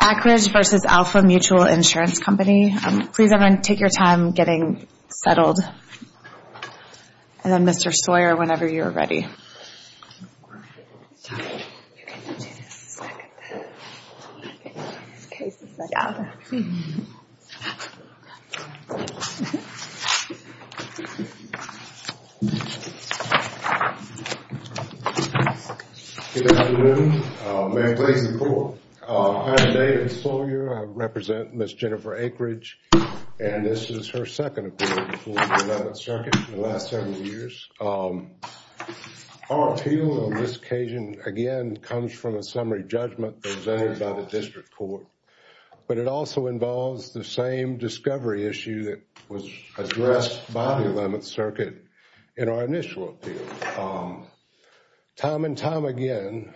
Akridge v. Alfa Mutual Insurance Company Please everyone take your time getting settled And then Mr. Sawyer whenever you are ready You can do this, it's not going to hurt In this case it's not going to hurt Good afternoon, May I please report? I am David Sawyer, I represent Ms. Jennifer Akridge And this is her second appointment for the 11th Circuit in the last several years Our appeal on this occasion again comes from a summary judgment presented by the District Court But it also involves the same discovery issue that was addressed by the 11th Circuit in our initial appeal Time and time again,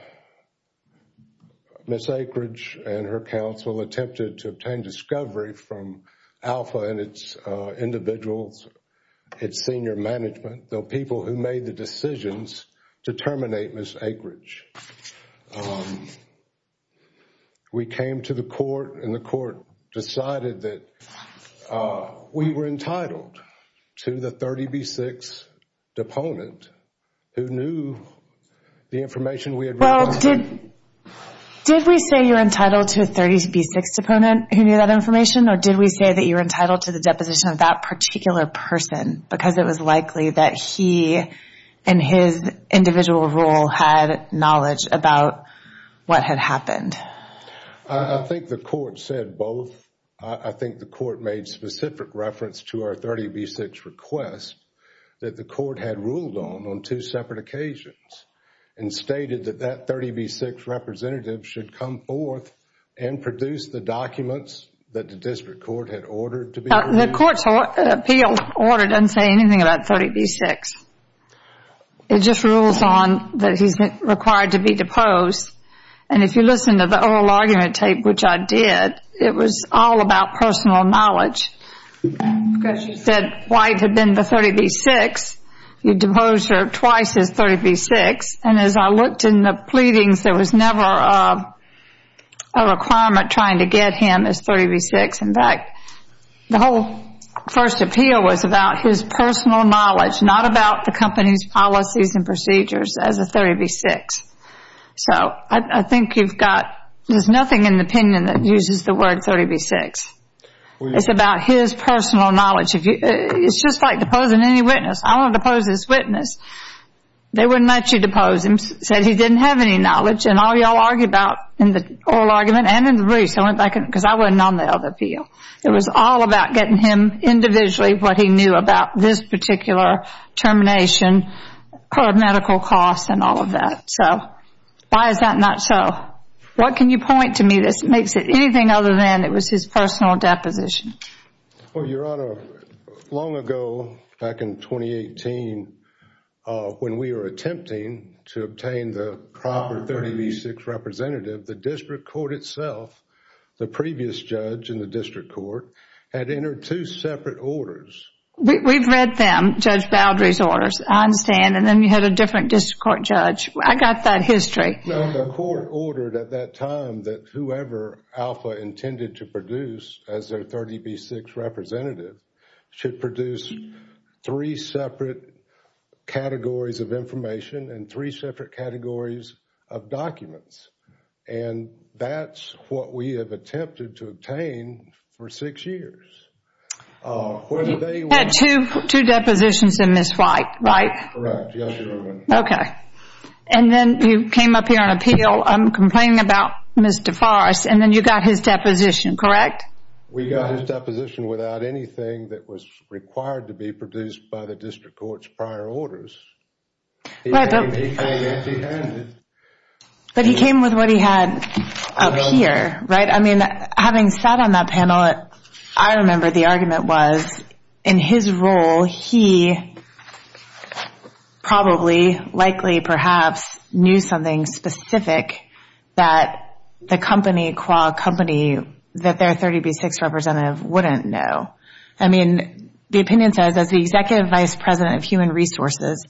Ms. Akridge and her counsel attempted to obtain discovery from Alfa and its individuals Its senior management, the people who made the decisions to terminate Ms. Akridge We came to the court and the court decided that we were entitled to the 30B6 deponent Who knew the information we had reported Did we say you are entitled to a 30B6 deponent who knew that information? Or did we say that you are entitled to the deposition of that particular person? Because it was likely that he and his individual role had knowledge about what had happened I think the court said both I think the court made specific reference to our 30B6 request That the court had ruled on on two separate occasions And stated that that 30B6 representative should come forth And produce the documents that the District Court had ordered to be produced The court's appeal order doesn't say anything about 30B6 It just rules on that he is required to be deposed And if you listen to the oral argument tape, which I did It was all about personal knowledge Because you said White had been the 30B6 You deposed her twice as 30B6 And as I looked in the pleadings, there was never a requirement trying to get him as 30B6 In fact, the whole first appeal was about his personal knowledge Not about the company's policies and procedures as a 30B6 So I think you've got, there's nothing in the opinion that uses the word 30B6 It's about his personal knowledge It's just like deposing any witness I want to depose this witness They wouldn't let you depose him Said he didn't have any knowledge And all y'all argue about in the oral argument and in the briefs Because I wasn't on the other appeal It was all about getting him individually what he knew about this particular termination Or medical costs and all of that So, why is that not so? What can you point to me that makes it anything other than it was his personal deposition? Well, Your Honor, long ago, back in 2018 When we were attempting to obtain the proper 30B6 representative The district court itself, the previous judge in the district court Had entered two separate orders We've read them, Judge Baldry's orders I understand, and then you had a different district court judge I got that history No, the court ordered at that time that whoever Alpha intended to produce As their 30B6 representative Should produce three separate categories of information And three separate categories of documents And that's what we have attempted to obtain for six years You had two depositions in this fight, right? Correct, yes, Your Honor Okay, and then you came up here on appeal Complaining about Mr. Farris And then you got his deposition, correct? We got his deposition without anything that was required to be produced by the district court's prior orders He came empty handed But he came with what he had up here, right? I mean, having sat on that panel I remember the argument was In his role, he probably, likely, perhaps Knew something specific that the company That their 30B6 representative wouldn't know I mean, the opinion says As the executive vice president of human resources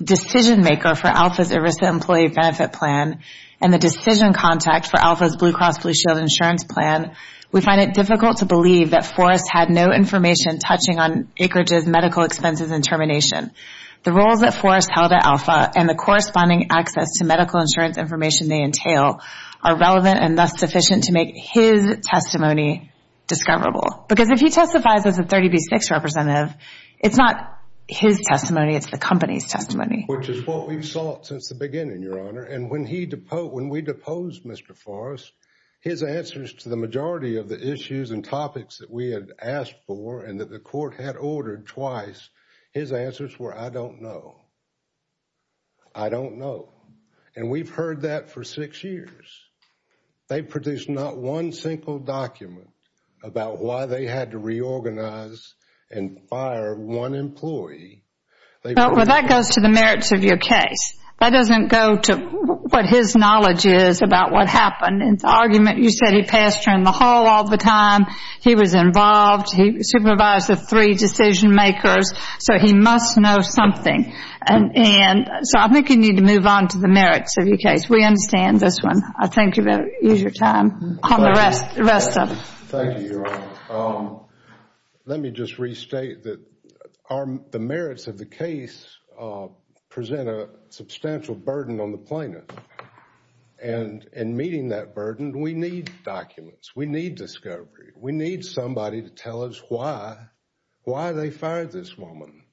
Decision maker for Alpha's IRISA employee benefit plan And the decision contact for Alpha's Blue Cross Blue Shield insurance plan We find it difficult to believe that Farris had no information Touching on acreage's medical expenses and termination The roles that Farris held at Alpha And the corresponding access to medical insurance information they entail Are relevant and thus sufficient to make his testimony discoverable Because if he testifies as a 30B6 representative It's not his testimony, it's the company's testimony Which is what we've sought since the beginning, Your Honor And when we deposed Mr. Farris His answers to the majority of the issues and topics That we had asked for and that the court had ordered twice His answers were, I don't know I don't know And we've heard that for six years They produced not one single document About why they had to reorganize And fire one employee Well, that goes to the merits of your case That doesn't go to what his knowledge is About what happened And the argument you said he passed around the hall all the time He was involved, he supervised the three decision makers So he must know something And so I think you need to move on to the merits of your case We understand this one I think you better use your time On the rest of it Thank you, Your Honor Let me just restate that The merits of the case Present a substantial burden on the plaintiff And in meeting that burden We need documents, we need discovery We need somebody to tell us why Why they fired this woman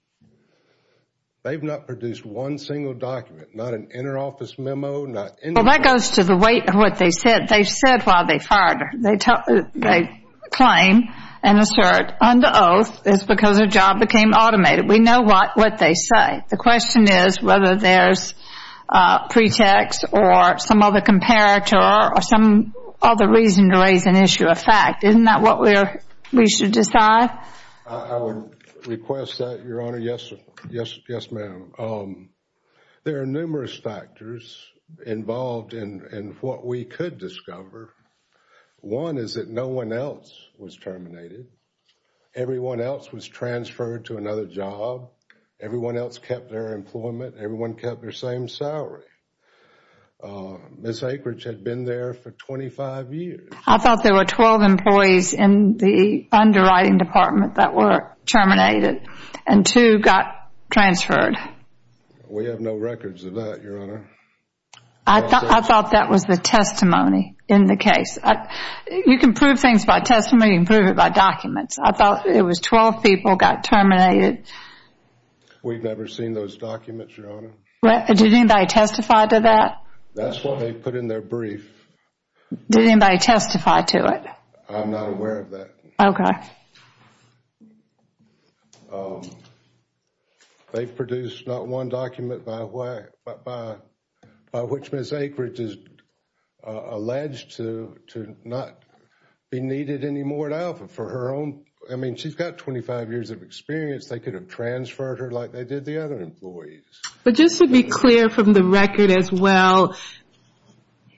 They've not produced one single document Not an inter-office memo Well, that goes to the weight of what they said They've said why they fired her They claim and assert Under oath, it's because her job became automated We know what they say The question is whether there's pretext Or some other comparator Or some other reason to raise an issue of fact Isn't that what we should decide? I would request that, Your Honor Yes, ma'am There are numerous factors Involved in what we could discover One is that no one else was terminated Everyone else was transferred to another job Everyone else kept their employment Everyone kept their same salary Ms. Akridge had been there for 25 years I thought there were 12 employees In the underwriting department That were terminated And two got transferred We have no records of that, Your Honor I thought that was the testimony in the case You can prove things by testimony You can prove it by documents I thought it was 12 people got terminated We've never seen those documents, Your Honor Did anybody testify to that? That's what they put in their brief Did anybody testify to it? I'm not aware of that Okay They produced not one document By which Ms. Akridge is alleged To not be needed anymore at Alpha For her own I mean, she's got 25 years of experience They could have transferred her Like they did the other employees But just to be clear from the record as well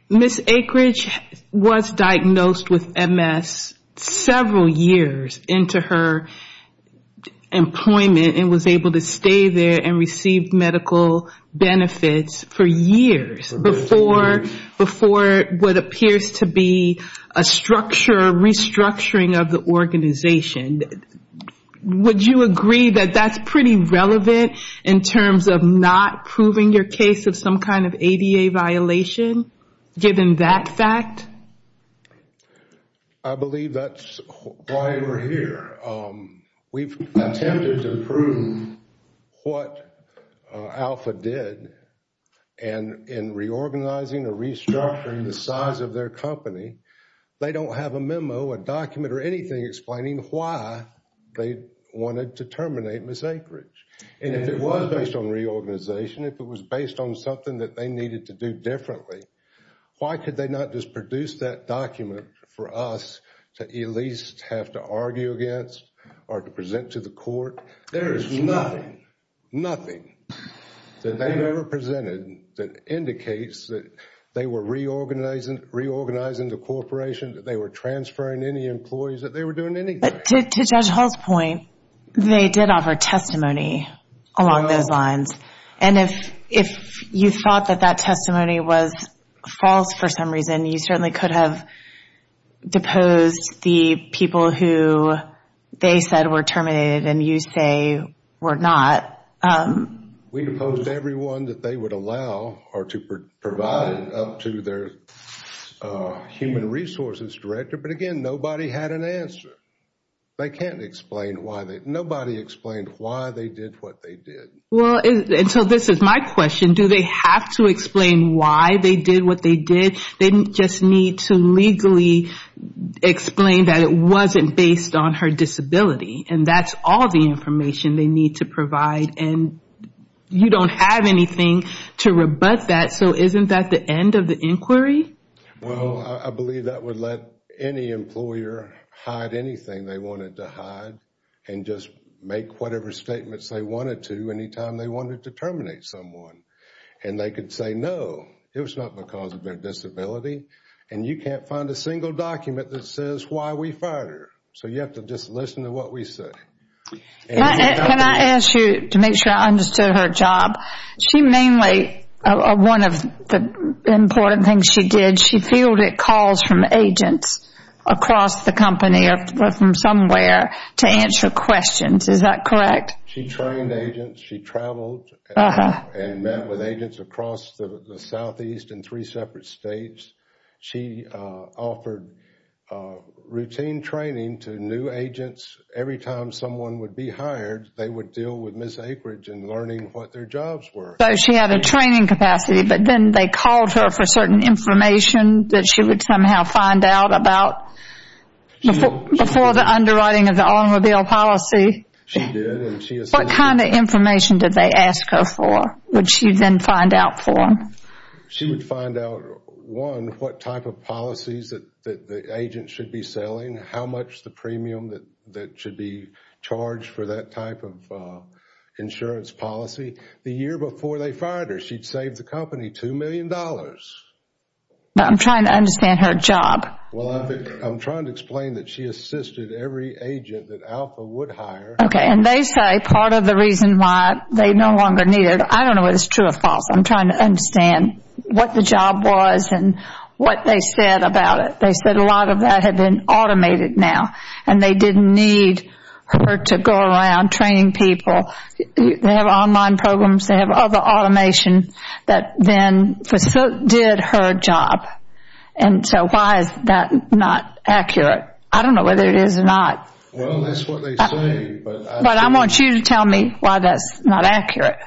Ms. Akridge was diagnosed with MS Several years into her employment And was able to stay there And receive medical benefits for years Before what appears to be A structure, restructuring of the organization Would you agree that that's pretty relevant In terms of not proving your case Of some kind of ADA violation Given that fact? I believe that's why we're here We've attempted to prove what Alpha did And in reorganizing or restructuring The size of their company They don't have a memo, a document Or anything explaining why They wanted to terminate Ms. Akridge And if it was based on reorganization If it was based on something That they needed to do differently Why could they not just produce that document For us to at least have to argue against Or to present to the court? There is nothing Nothing That they've ever presented That indicates that They were reorganizing the corporation That they were transferring any employees That they were doing anything But to Judge Hall's point They did offer testimony along those lines And if you thought that that testimony Was false for some reason You certainly could have deposed The people who they said were terminated And you say were not We deposed everyone that they would allow Or to provide up to their Human resources director But again nobody had an answer They can't explain why Nobody explained why they did what they did Well and so this is my question Do they have to explain why they did what they did? They just need to legally Explain that it wasn't based on her disability And that's all the information they need to provide So isn't that the end of the inquiry? Well I believe that would let any employer Hide anything they wanted to hide And just make whatever statements they wanted to Anytime they wanted to terminate someone And they could say no It was not because of their disability And you can't find a single document That says why we fired her So you have to just listen to what we say Can I ask you to make sure I understood her job She mainly One of the important things she did She fielded calls from agents Across the company or from somewhere To answer questions Is that correct? She trained agents She traveled And met with agents across the southeast In three separate states She offered routine training to new agents Every time someone would be hired They would deal with Ms. Akridge And learning what their jobs were So she had a training capacity But then they called her for certain information That she would somehow find out about Before the underwriting of the automobile policy She did What kind of information did they ask her for? Would she then find out for them? She would find out One, what type of policies That the agent should be selling How much the premium that should be charged For that type of insurance policy The year before they fired her She saved the company $2 million I'm trying to understand her job I'm trying to explain that she assisted every agent That Alpha would hire And they say part of the reason why They no longer needed her I don't know if it's true or false I'm trying to understand what the job was And what they said about it They said a lot of that had been automated now And they didn't need her to go around training people They have online programs They have other automation That then facilitated her job And so why is that not accurate? I don't know whether it is or not Well, that's what they say But I want you to tell me why that's not accurate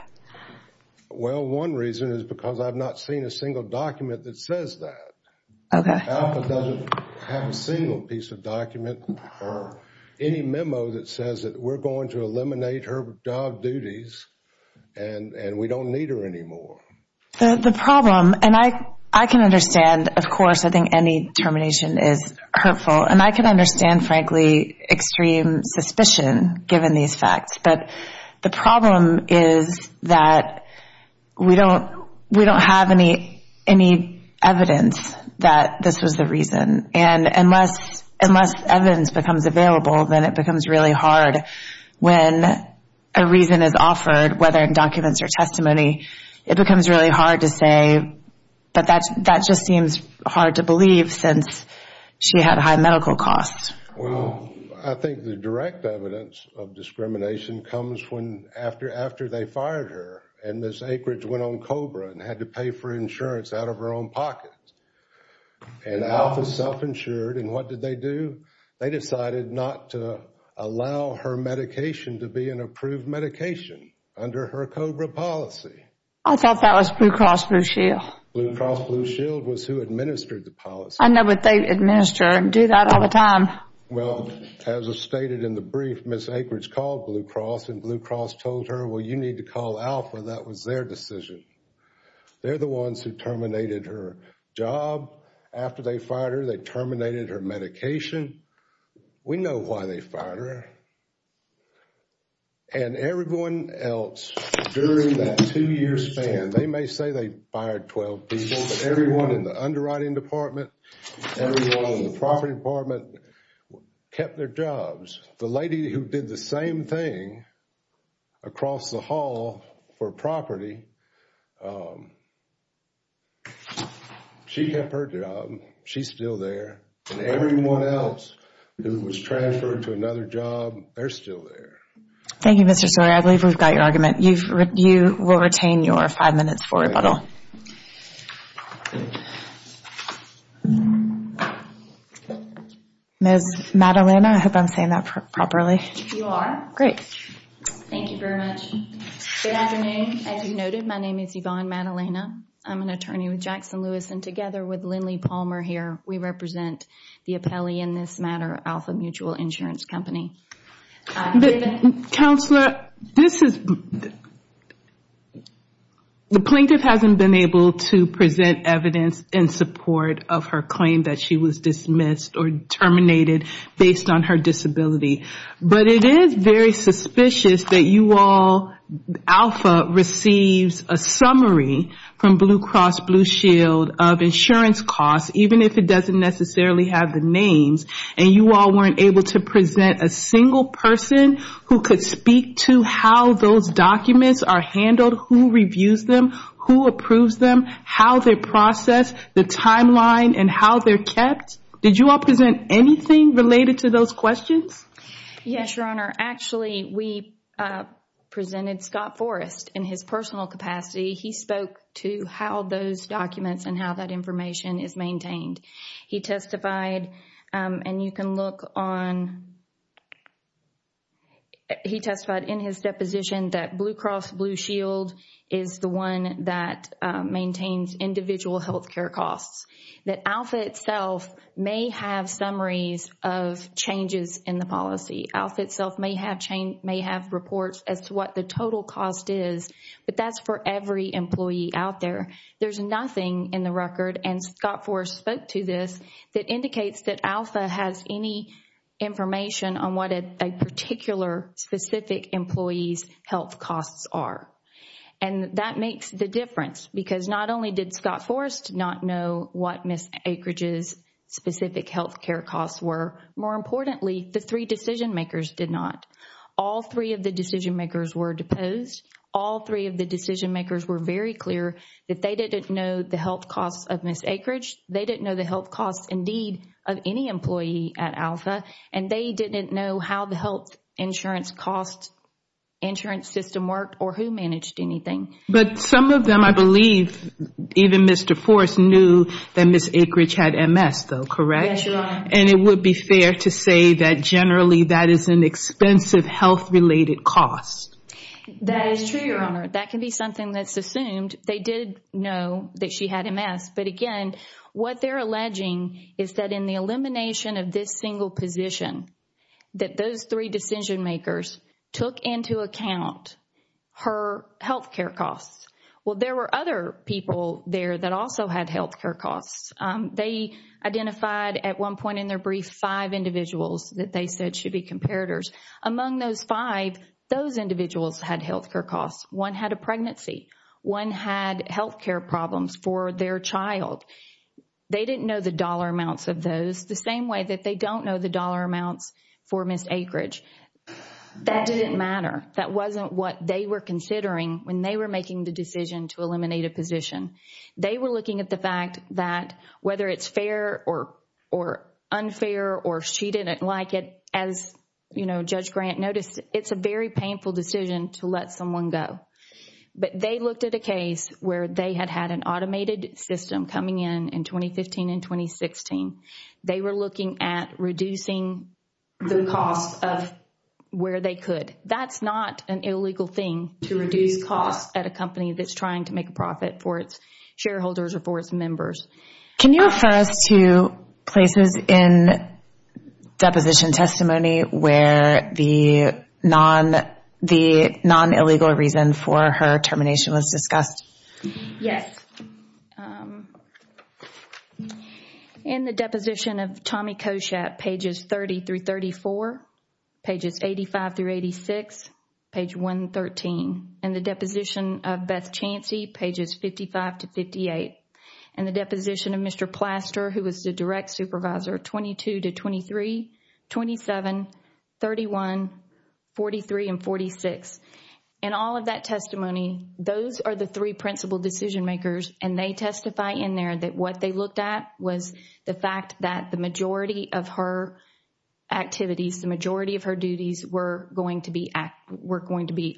Well, one reason is because I've not seen a single document that says that Okay Alpha doesn't have a single piece of document Or any memo that says We're going to eliminate her job duties And we don't need her anymore The problem And I can understand, of course I think any termination is hurtful And I can understand, frankly Extreme suspicion Given these facts But the problem is that We don't have any evidence That this was the reason And unless evidence becomes available Then it becomes really hard When a reason is offered Whether in documents or testimony It becomes really hard to say But that just seems hard to believe Since she had high medical costs Well, I think the direct evidence of discrimination Comes after they fired her And Ms. Akeridge went on COBRA And had to pay for insurance out of her own pocket And Alpha self-insured And what did they do? They decided not to allow her medication To be an approved medication Under her COBRA policy I thought that was Blue Cross Blue Shield Blue Cross Blue Shield was who administered the policy I know, but they administer and do that all the time Well, as was stated in the brief Ms. Akeridge called Blue Cross And Blue Cross told her Well, you need to call Alpha That was their decision They're the ones who terminated her job After they fired her After they terminated her medication We know why they fired her And everyone else During that two year span They may say they fired 12 people But everyone in the underwriting department Everyone in the property department Kept their jobs The lady who did the same thing Across the hall for property She kept her job She's still there And everyone else Who was transferred to another job They're still there Thank you Mr. Sawyer I believe we've got your argument You will retain your five minutes for rebuttal Ms. Madalena I hope I'm saying that properly You are Great Thank you very much Good afternoon As you noted My name is Yvonne Madalena I'm an attorney with Jackson Lewis And together with Lindley Palmer here We represent the appellee in this matter Alpha Mutual Insurance Company Counselor This is The plaintiff hasn't been able to present evidence In support of her claim That she was dismissed or terminated Based on her disability But it is very suspicious That you all Alpha receives a summary From Blue Cross Blue Shield Of insurance costs Even if it doesn't necessarily have the names And you all weren't able to present A single person Who could speak to how those documents are handled Who reviews them Who approves them How they're processed The timeline And how they're kept Did you all present anything Related to those questions? Yes your honor Actually we Presented Scott Forrest In his personal capacity He spoke to how those documents And how that information is maintained He testified And you can look on He testified in his deposition That Blue Cross Blue Shield Is the one that Maintains individual healthcare costs That Alpha itself May have summaries Of changes in the policy Alpha itself may have reports As to what the total cost is But that's for every employee out there There's nothing in the record And Scott Forrest spoke to this That indicates that Alpha Has any information On what a particular Specific employee's health costs are And that makes the difference Because not only did Scott Forrest Not know what Ms. Akeridge's Specific healthcare costs were More importantly The three decision makers did not All three of the decision makers Were deposed All three of the decision makers Were very clear That they didn't know the health costs Of Ms. Akeridge They didn't know the health costs Indeed of any employee At Alpha And they didn't know how the health Insurance costs Insurance system worked Or who managed anything But some of them I believe Even Mr. Forrest knew That Ms. Akeridge had MS though Correct? Yes your honor And it would be fair to say That generally that is an expensive Health related cost That is true your honor That can be something that's assumed They did know that she had MS But again What they're alleging Is that in the elimination Of this single position That those three decision makers Took into account Her healthcare costs Well there were other people There that also had healthcare costs They identified at one point In their brief Five individuals That they said should be comparators Among those five Those individuals had healthcare costs One had a pregnancy One had healthcare problems For their child They didn't know the dollar amounts of those The same way that they don't know the dollar amounts For Ms. Akeridge That didn't matter That wasn't what they were considering When they were making the decision To eliminate a position They were looking at the fact That whether it's fair Or unfair Or she didn't like it As Judge Grant noticed It's a very painful decision To let someone go But they looked at a case Where they had had an automated system Coming in in 2015 and 2016 They were looking at Reducing the cost Of where they could That's not an illegal thing To reduce costs at a company That's trying to make a profit For its shareholders or for its members Can you refer us to Places in Deposition testimony Where the Non-illegal reason For her termination was discussed Yes In the deposition of Tommy Koshat Pages 30-34 Pages 85-86 Page 113 In the deposition of Beth Chancey Pages 55-58 In the deposition of Mr. Plaster Who was the direct supervisor 22-23 27-31 43-46 In all of that testimony Those are the three principal decision makers And they testify in there That what they looked at was The fact that the majority of her Activities The majority of her duties Were going to be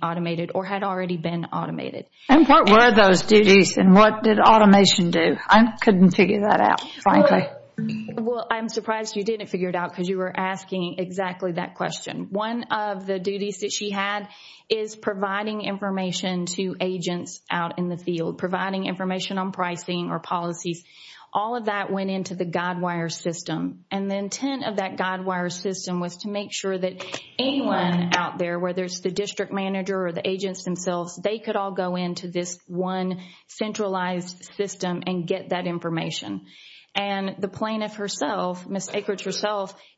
automated Or had already been automated And what were those duties And what did automation do I couldn't figure that out Well I'm surprised you didn't figure it out Because you were asking exactly that question One of the duties that she had Is providing information To agents out in the field Providing information on pricing Or policies All of that went into the Godwire system And the intent of that Godwire system Was to make sure that anyone Out there, whether it's the district manager Or the agents themselves They could all go into this one Centralized system And get that information And the plaintiff herself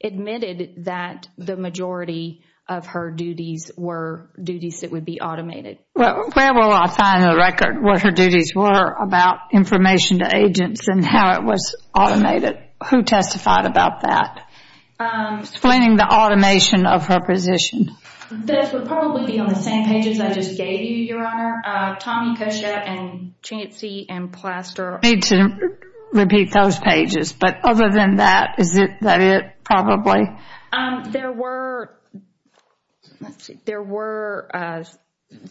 Admitted that The majority of her duties Were duties that would be automated Where will I find A record of what her duties were About information to agents And how it was automated Who testified about that Explaining the automation Of her position Those would probably be on the same pages I just gave you, your honor Tommy Kosher and Chancey and Plaster I need to repeat those pages But other than that, is that it Probably There were There were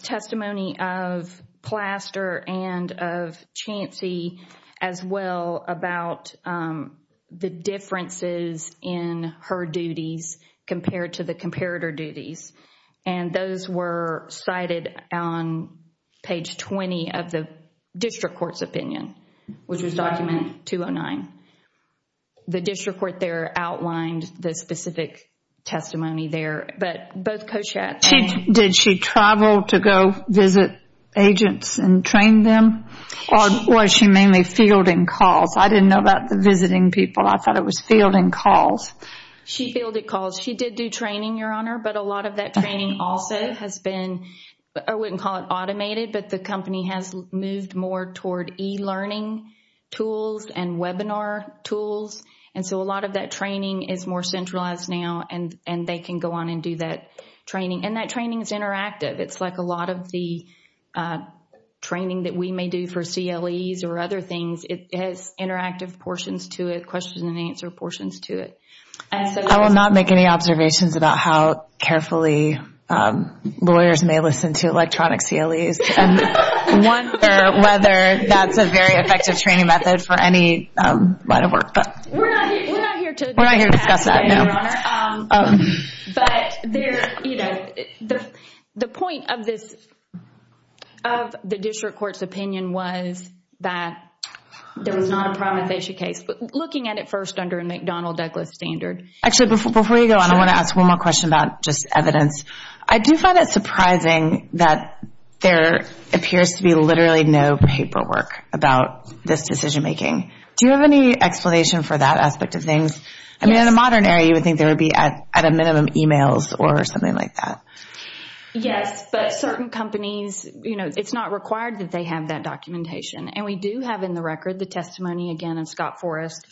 Testimony of Plaster And of Chancey As well about The differences In her duties Compared to the comparator duties And those were Cited on Page 20 of the District Court's opinion Which is document 209 The district court there outlined The specific testimony There, but both Kosher and Did she travel to go Visit agents and train Them or was she Mainly fielding calls, I didn't know about Visiting people, I thought it was fielding Calls. She fielded calls She did do training, your honor, but a lot of that Training also has been I wouldn't call it automated, but the Company has moved more toward E-learning tools And webinar tools And so a lot of that training is more Centralized now and they can go on And do that training, and that training Is interactive, it's like a lot of the Training that we May do for CLEs or other things It has interactive portions To it, question and answer portions to it I will not make any Observations about how carefully Lawyers may listen To electronic CLEs And wonder whether That's a very effective training method for any Line of work We're not here to discuss that But The point of this Of the district court's opinion Was that There was not a But looking at it first under a McDonald-Douglas standard I want to ask one more question about Evidence, I do find it surprising That there Appears to be literally no Paperwork about this decision making Do you have any explanation for that Aspect of things, I mean in a modern Area you would think there would be at a minimum Emails or something like that Yes, but certain companies You know, it's not required that they Have that documentation and we do have In the record the testimony again of Scott Forrest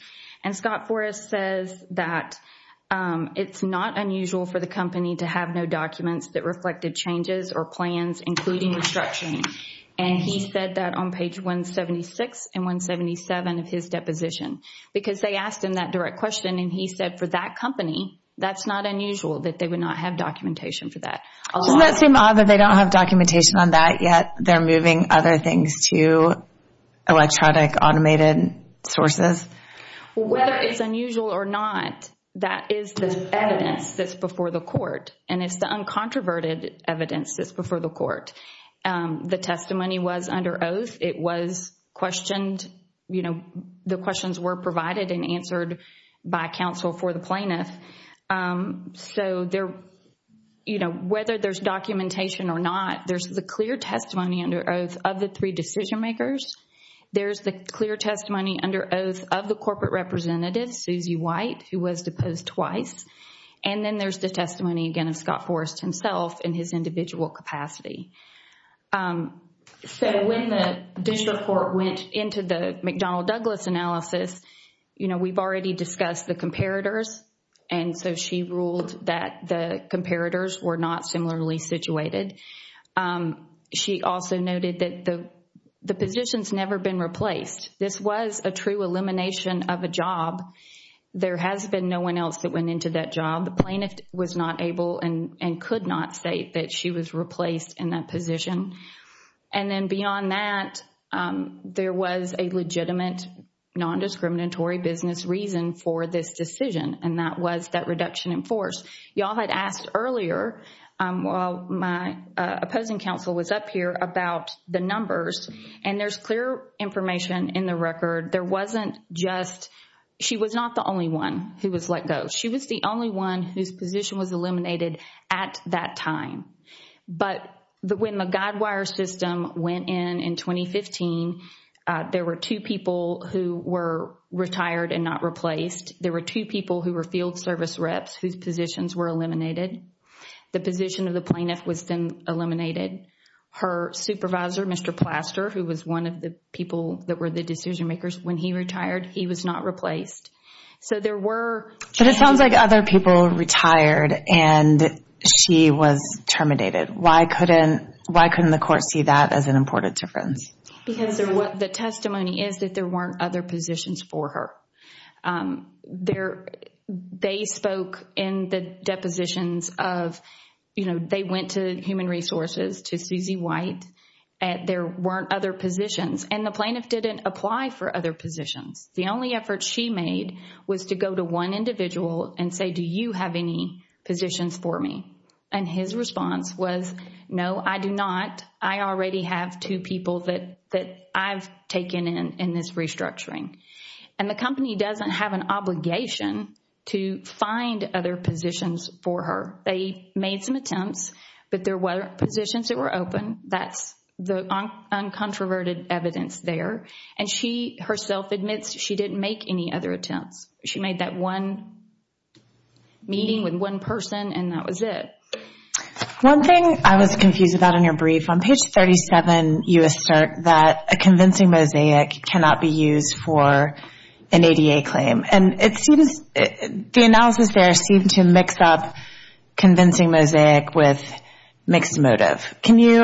And Scott Forrest says That It's not unusual for the company to have No documents that reflected changes Or plans including restructuring And he said that on page 176 and 177 Of his deposition because they asked Him that direct question and he said for that Company, that's not unusual That they would not have documentation for that Doesn't that seem odd that they don't have documentation On that yet they're moving other Things to electronic Automated sources Whether it's unusual or Not, that is the Evidence that's before the court And it's the uncontroverted evidence That's before the court The testimony was under oath, it was Questioned, you know The questions were provided and answered By counsel for the plaintiff So They're, you know, whether There's documentation or not, there's The clear testimony under oath of the Three decision makers, there's The clear testimony under oath of The corporate representative Susie White Who was deposed twice And then there's the testimony again of Scott Forrest himself in his individual Capacity So when the district Court went into the McDonnell Douglas analysis, you know, we've Already discussed the comparators And so she ruled that The comparators were not similarly Situated She also noted that the Position's never been replaced This was a true elimination Of a job There has been no one else that went into that job The plaintiff was not able and Could not say that she was replaced In that position And then beyond that There was a legitimate Non-discriminatory business reason For this decision and that Was that reduction in force Y'all had asked earlier While my opposing Counsel was up here about the numbers And there's clear information In the record, there wasn't Just, she was not the only One who was let go, she was the only One whose position was eliminated At that time But when the guidewire System went in in 2015 There were two people Who were retired and not Service reps whose positions were eliminated The position of the plaintiff Was then eliminated Her supervisor, Mr. Plaster Who was one of the people that were the Decision makers, when he retired, he was Not replaced, so there were But it sounds like other people Retired and She was terminated, why couldn't Why couldn't the court see that As an important difference? The testimony is that there weren't other Positions for her There They spoke in the Depositions of You know, they went to human resources To Susie White There weren't other positions And the plaintiff didn't apply for other positions The only effort she made Was to go to one individual and say Do you have any positions for me? And his response was No, I do not I already have two people that I've taken in In this restructuring And the company doesn't have an obligation To find other positions For her They made some attempts, but there weren't Positions that were open That's the uncontroverted evidence There, and she herself Admits she didn't make any other attempts She made that one Meeting with one person And that was it One thing I was confused about in your brief On page 37 you assert That a convincing mosaic Cannot be used for An ADA claim The analysis there seems to Mix up convincing mosaic With mixed motive Can you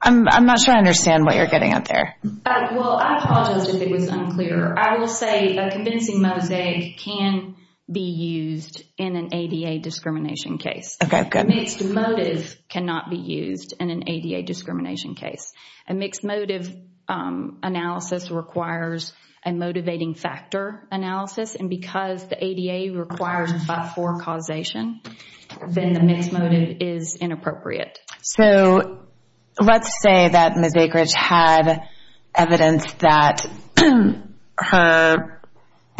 I'm not sure I understand what you're getting at there Well, I apologize if it was unclear I will say a convincing mosaic Can be used In an ADA discrimination case Okay, good Mixed motive cannot be used in an ADA discrimination case A mixed motive Analysis requires A motivating factor analysis And because the ADA requires A 5-4 causation Then the mixed motive is inappropriate So Let's say that Ms. Akeridge had Evidence that Her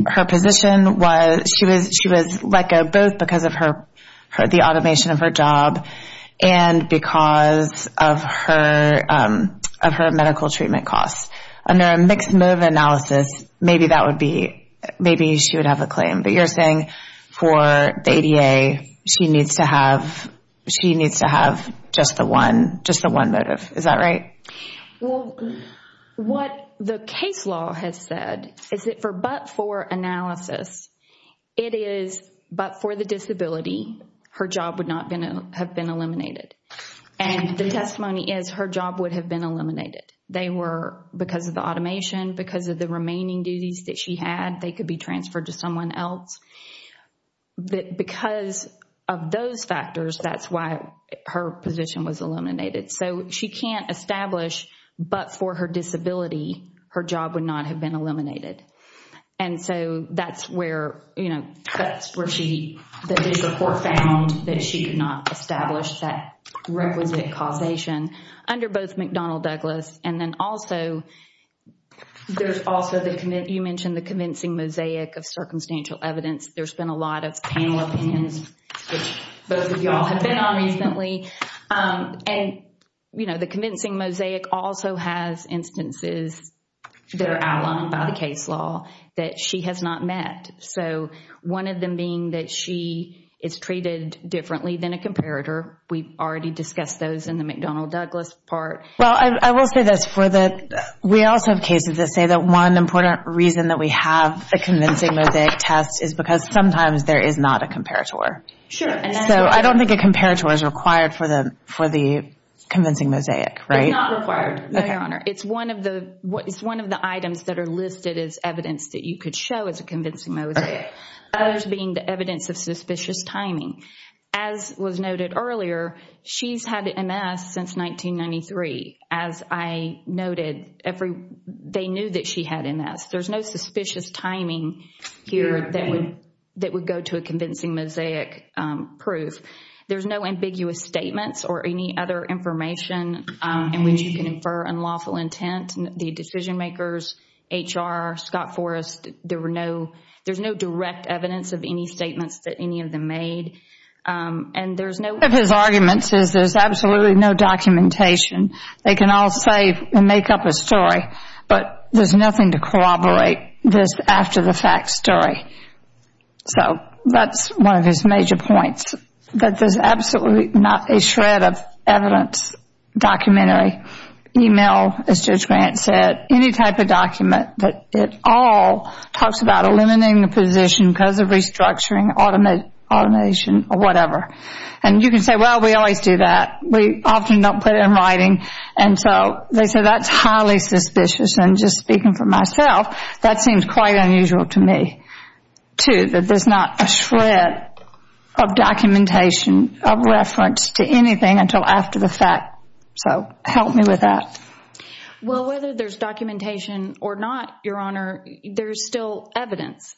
Her position was She was like a, both because of Her, the automation of her job And because Of her Of her medical treatment costs Under a mixed motive analysis Maybe that would be, maybe she would have A claim, but you're saying For the ADA, she needs to have She needs to have Just the one, just the one motive Is that right? What the case law Has said, is that for but-for Analysis It is, but for the disability Her job would not have been Eliminated, and the testimony Is her job would have been eliminated They were, because of the automation Because of the remaining duties that she Had, they could be transferred to someone else But Because of those factors That's why her position Was eliminated, so she can't establish But for her disability Her job would not have been Eliminated, and so That's where, you know, that's Where she, the report found That she could not establish that Requisite causation Under both McDonnell-Douglas, and then Also There's also the, you mentioned the convincing Mosaic of circumstantial evidence There's been a lot of panel opinions Which both of y'all have been on Recently And, you know, the convincing mosaic Also has instances That are outlined by the case Law that she has not met So, one of them being that She is treated differently Than a comparator, we've already Discussed those in the McDonnell-Douglas part Well, I will say this, for the We also have cases that say that one Important reason that we have A convincing mosaic test is because Sometimes there is not a comparator So, I don't think a comparator Is required for the Convincing mosaic, right? It's not required, it's one of the It's one of the items that are listed as Evidence that you could show as a convincing mosaic Others being the evidence of Suspicious timing As was noted earlier She's had MS since 1993 As I noted Every, they knew that she had MS, there's no suspicious timing Here that would That would go to a convincing mosaic Proof, there's no ambiguous Statements or any other information In which you can infer Unlawful intent, the decision makers HR, Scott Forrest There were no, there's no direct Evidence of any statements that any of them Made, and there's no One of his arguments is there's absolutely No documentation, they can All say and make up a story But there's nothing to corroborate This after the fact story So That's one of his major points That there's absolutely not a Shred of evidence Documentary, email As Judge Grant said, any type of document That it all Talks about eliminating the position Because of restructuring, automation Or whatever, and you can say Well we always do that, we often Don't put it in writing, and so They say that's highly suspicious And just speaking for myself That seems quite unusual to me Too, that there's not a shred Of documentation Of reference to anything Until after the fact So help me with that Well whether there's documentation Or not, your honor There's still evidence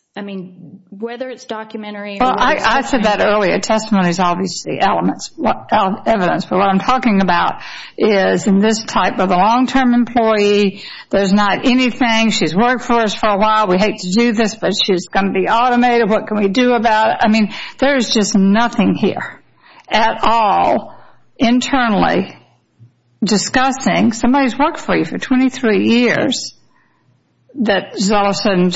Whether it's documentary I said that earlier, testimony is obviously Elements of evidence But what I'm talking about is In this type of a long term employee There's not anything She's worked for us for a while, we hate to do this But she's going to be automated, what can we Do about it, I mean there's just Nothing here, at all Internally Discussing Somebody's worked for you for 23 years That all of a sudden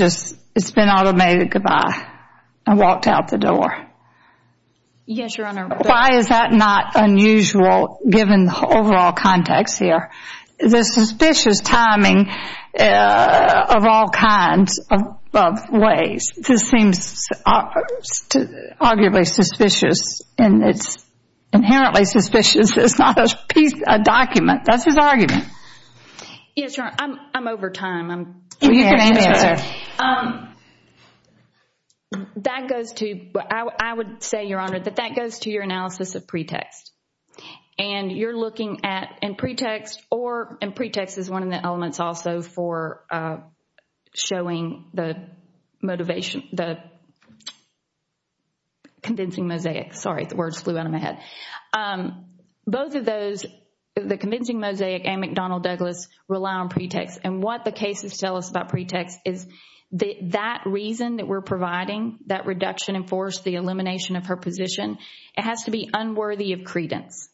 It's been automated, goodbye And walked out the door Yes your honor Why is that not unusual Given the overall context here Of all kinds Of ways This seems Arguably suspicious And it's inherently Suspicious, it's not a piece A document, that's his argument Yes your honor, I'm over time You can answer That goes to I would say your honor, that that goes to your analysis Of pretext And you're looking at, and pretext Or, and pretext is one of the elements Also for Showing the Motivation, the Condensing mosaic Sorry, the words flew out of my head Both of those The convincing mosaic and McDonnell Douglas Rely on pretext, and what the cases Tell us about pretext is That reason that we're providing That reduction in force, the elimination Of her position, it has to be Unworthy of credence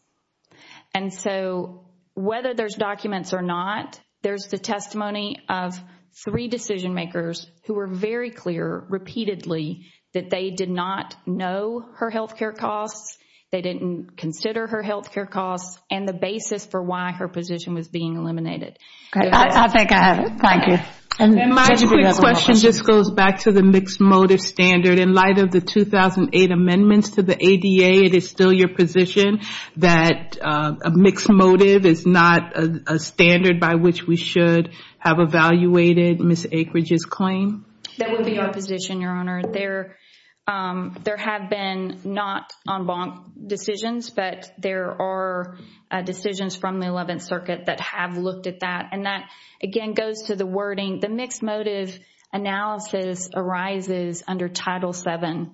And so, whether there's Documents or not, there's the Testimony of three decision Makers, who were very clear Repeatedly, that they did Not know her healthcare costs They didn't consider her Healthcare costs, and the basis for Why her position was being eliminated I think I have it, thank you And my quick question Just goes back to the mixed motive standard In light of the 2008 amendments To the ADA, it is still your position That A mixed motive is not A standard by which we should Have evaluated Ms. Akeridge's Claim That would be your position, Your Honor There have been Not en banc decisions But there are Decisions from the 11th circuit that Have looked at that, and that Again, goes to the wording, the mixed motive Analysis arises Under Title VII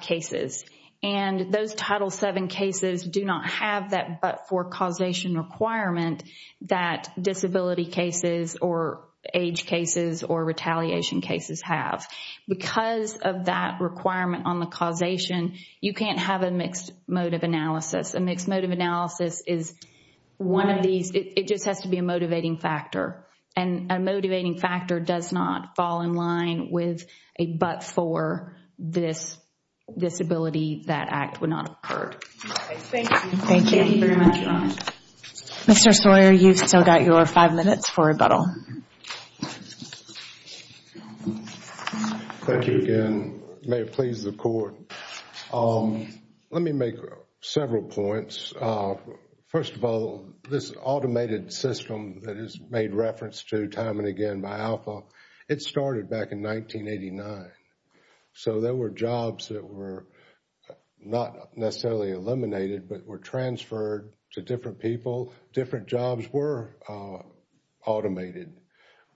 Cases, and Those Title VII cases do not Have that but-for causation Requirement that disability Cases, or age Cases have, because Of that requirement on the causation You can't have a mixed motive Analysis, a mixed motive analysis Is one of these It just has to be a motivating factor And a motivating factor does Not fall in line with A but-for This disability that Act would not have occurred Thank you very much Mr. Sawyer, you've still got your Five minutes for rebuttal Thank you again May it please the court Let me make Several points First of all, this automated System that is made reference To time and again by Alpha It started back in 1989 So there were jobs That were not Necessarily eliminated but were Transferred to different people Different jobs were Automated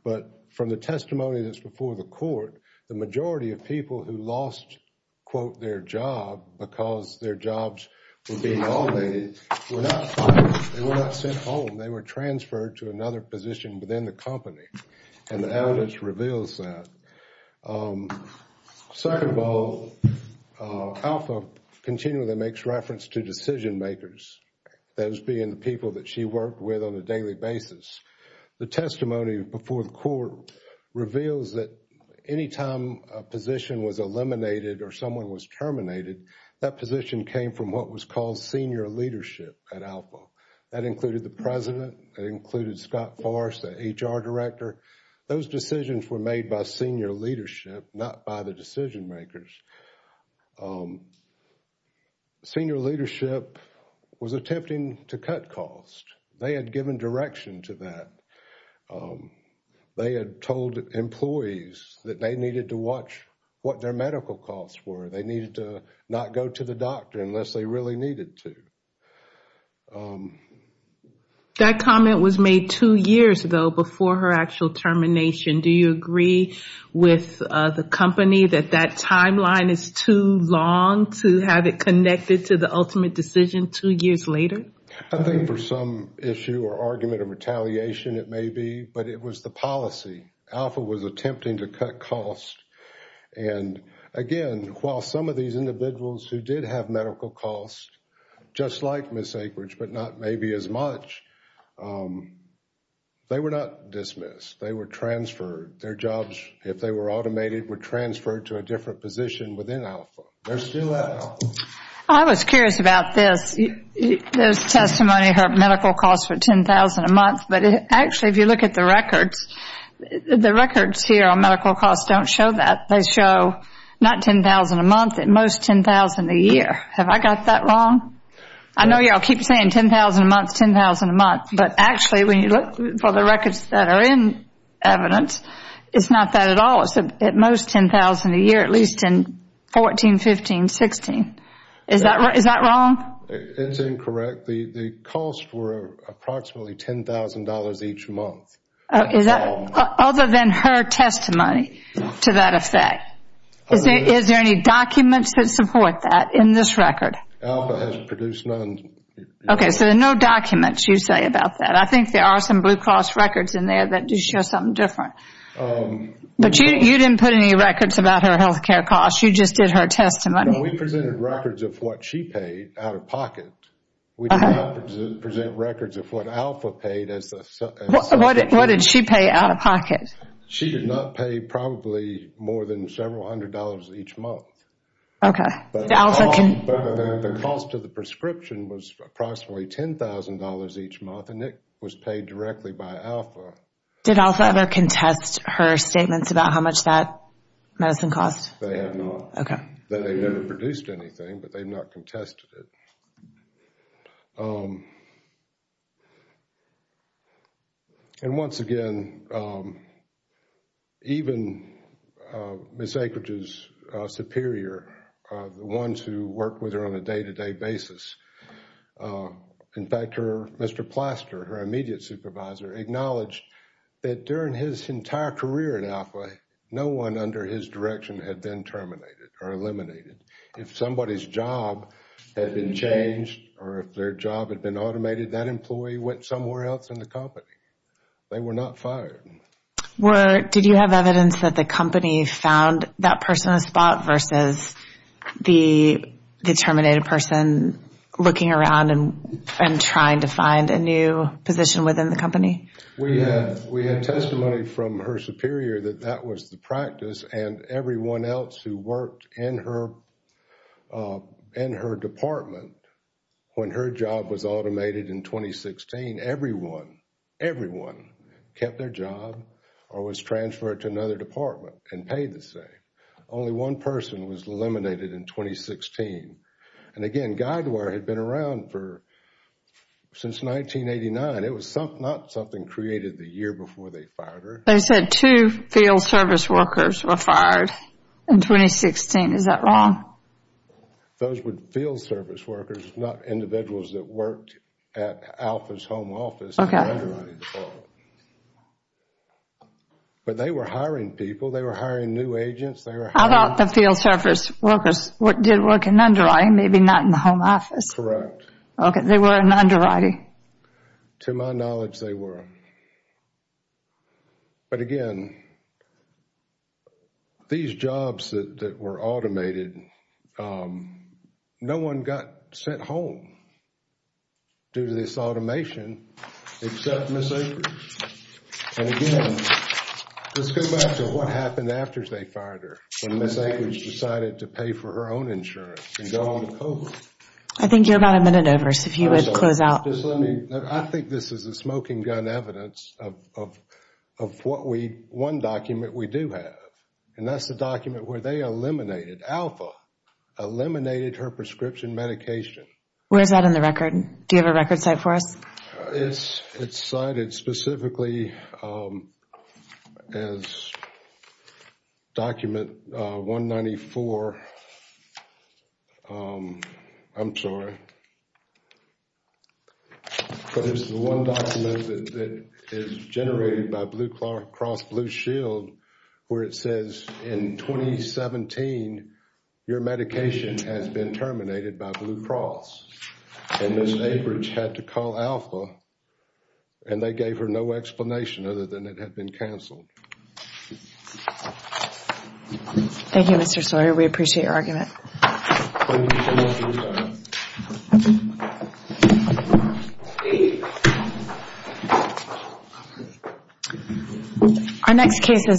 But from the testimony That's before the court, the majority Of people who lost Their job because their Jobs were being automated Were not fired, they were not sent Home, they were transferred to another Position within the company And the evidence reveals that Second of all Alpha Continually makes reference to Decision makers, those being The people that she worked with on a daily Basis. The testimony Before the court reveals That any time a position Was eliminated or someone was Terminated, that position came From what was called senior leadership At Alpha. That included the President, that included Scott Forrest The HR director Those decisions were made by senior leadership Not by the decision makers Senior leadership Was attempting to cut Medical costs. They had given Direction to that They had told Employees that they needed to watch What their medical costs were They needed to not go to the doctor Unless they really needed to That comment was made Two years ago before her actual Termination. Do you agree With the company that That timeline is too long To have it connected to the For some issue or argument Of retaliation it may be But it was the policy. Alpha was Attempting to cut costs And again While some of these individuals who did have Medical costs, just like Ms. Akeridge, but not maybe as much They were not dismissed They were transferred. Their jobs If they were automated were transferred to a different Position within Alpha I was curious about This testimony Her medical costs were $10,000 a month But actually if you look at the records The records here On medical costs don't show that They show not $10,000 a month At most $10,000 a year Have I got that wrong? I know you all keep saying $10,000 a month But actually when you look For the records that are in evidence It's at most $10,000 a year At least in 2014, 2015, 2016 Is that wrong? It's incorrect The costs were approximately $10,000 Each month Other than her testimony To that effect Is there any documents That support that in this record? Alpha has produced none Okay, so there are no documents you say about that I think there are some Blue Cross records In there that do show something different But you didn't put any Records about her health care costs You just did her testimony We presented records of what she paid Out of pocket We did not present records of what Alpha paid What did she pay out of pocket? She did not pay Probably more than Several hundred dollars each month Okay But the cost of the prescription Was approximately $10,000 each month And it was paid directly by Alpha Did Alpha ever contest Her statements about how much that Has been cost? They have not They have never produced anything But they have not contested it And once again Even Ms. Akeridge's Superior The ones who work with her on a day to day basis In fact Mr. Plaster Her immediate supervisor Acknowledged that during his entire career In Alpha No one under his direction had been terminated Or eliminated If somebody's job had been changed Or if their job had been automated That employee went somewhere else in the company They were not fired Did you have evidence That the company found that person The terminated person Looking around And trying to find a new Position within the company We had testimony From her superior that that was The practice and everyone else Who worked in her In her department When her job was Automated in 2016 Everyone Kept their job or was transferred To another department and paid the same Only one person was Eliminated in 2016 And again Guidewire had been around For Since 1989 It was not something created the year Before they fired her They said two field service workers were fired In 2016 Is that wrong Those were field service workers Not individuals that worked At Alpha's home office In the underwriting department But they were hiring people They were hiring new agents How about the field service workers Did work in underwriting Maybe not in the home office They were in underwriting To my knowledge they were But again These jobs That were automated No one got Sent home Due to this automation Except Ms. Akers And again Let's go back to what happened after they fired her When Ms. Akers decided to Get her own insurance I think you're about a minute over So if you would close out I think this is the smoking gun evidence Of what we One document we do have And that's the document where they eliminated Alpha Eliminated her prescription medication Where is that in the record Do you have a record cite for us It's cited specifically As Document 194 I'm sorry But it's the one document that Is generated by Blue Cross Blue Shield where it says In 2017 Your medication Has been terminated by Blue Cross And Ms. Akers Had to call Alpha And they gave her no explanation Other than it had been cancelled Thank you Mr. Solari We appreciate your argument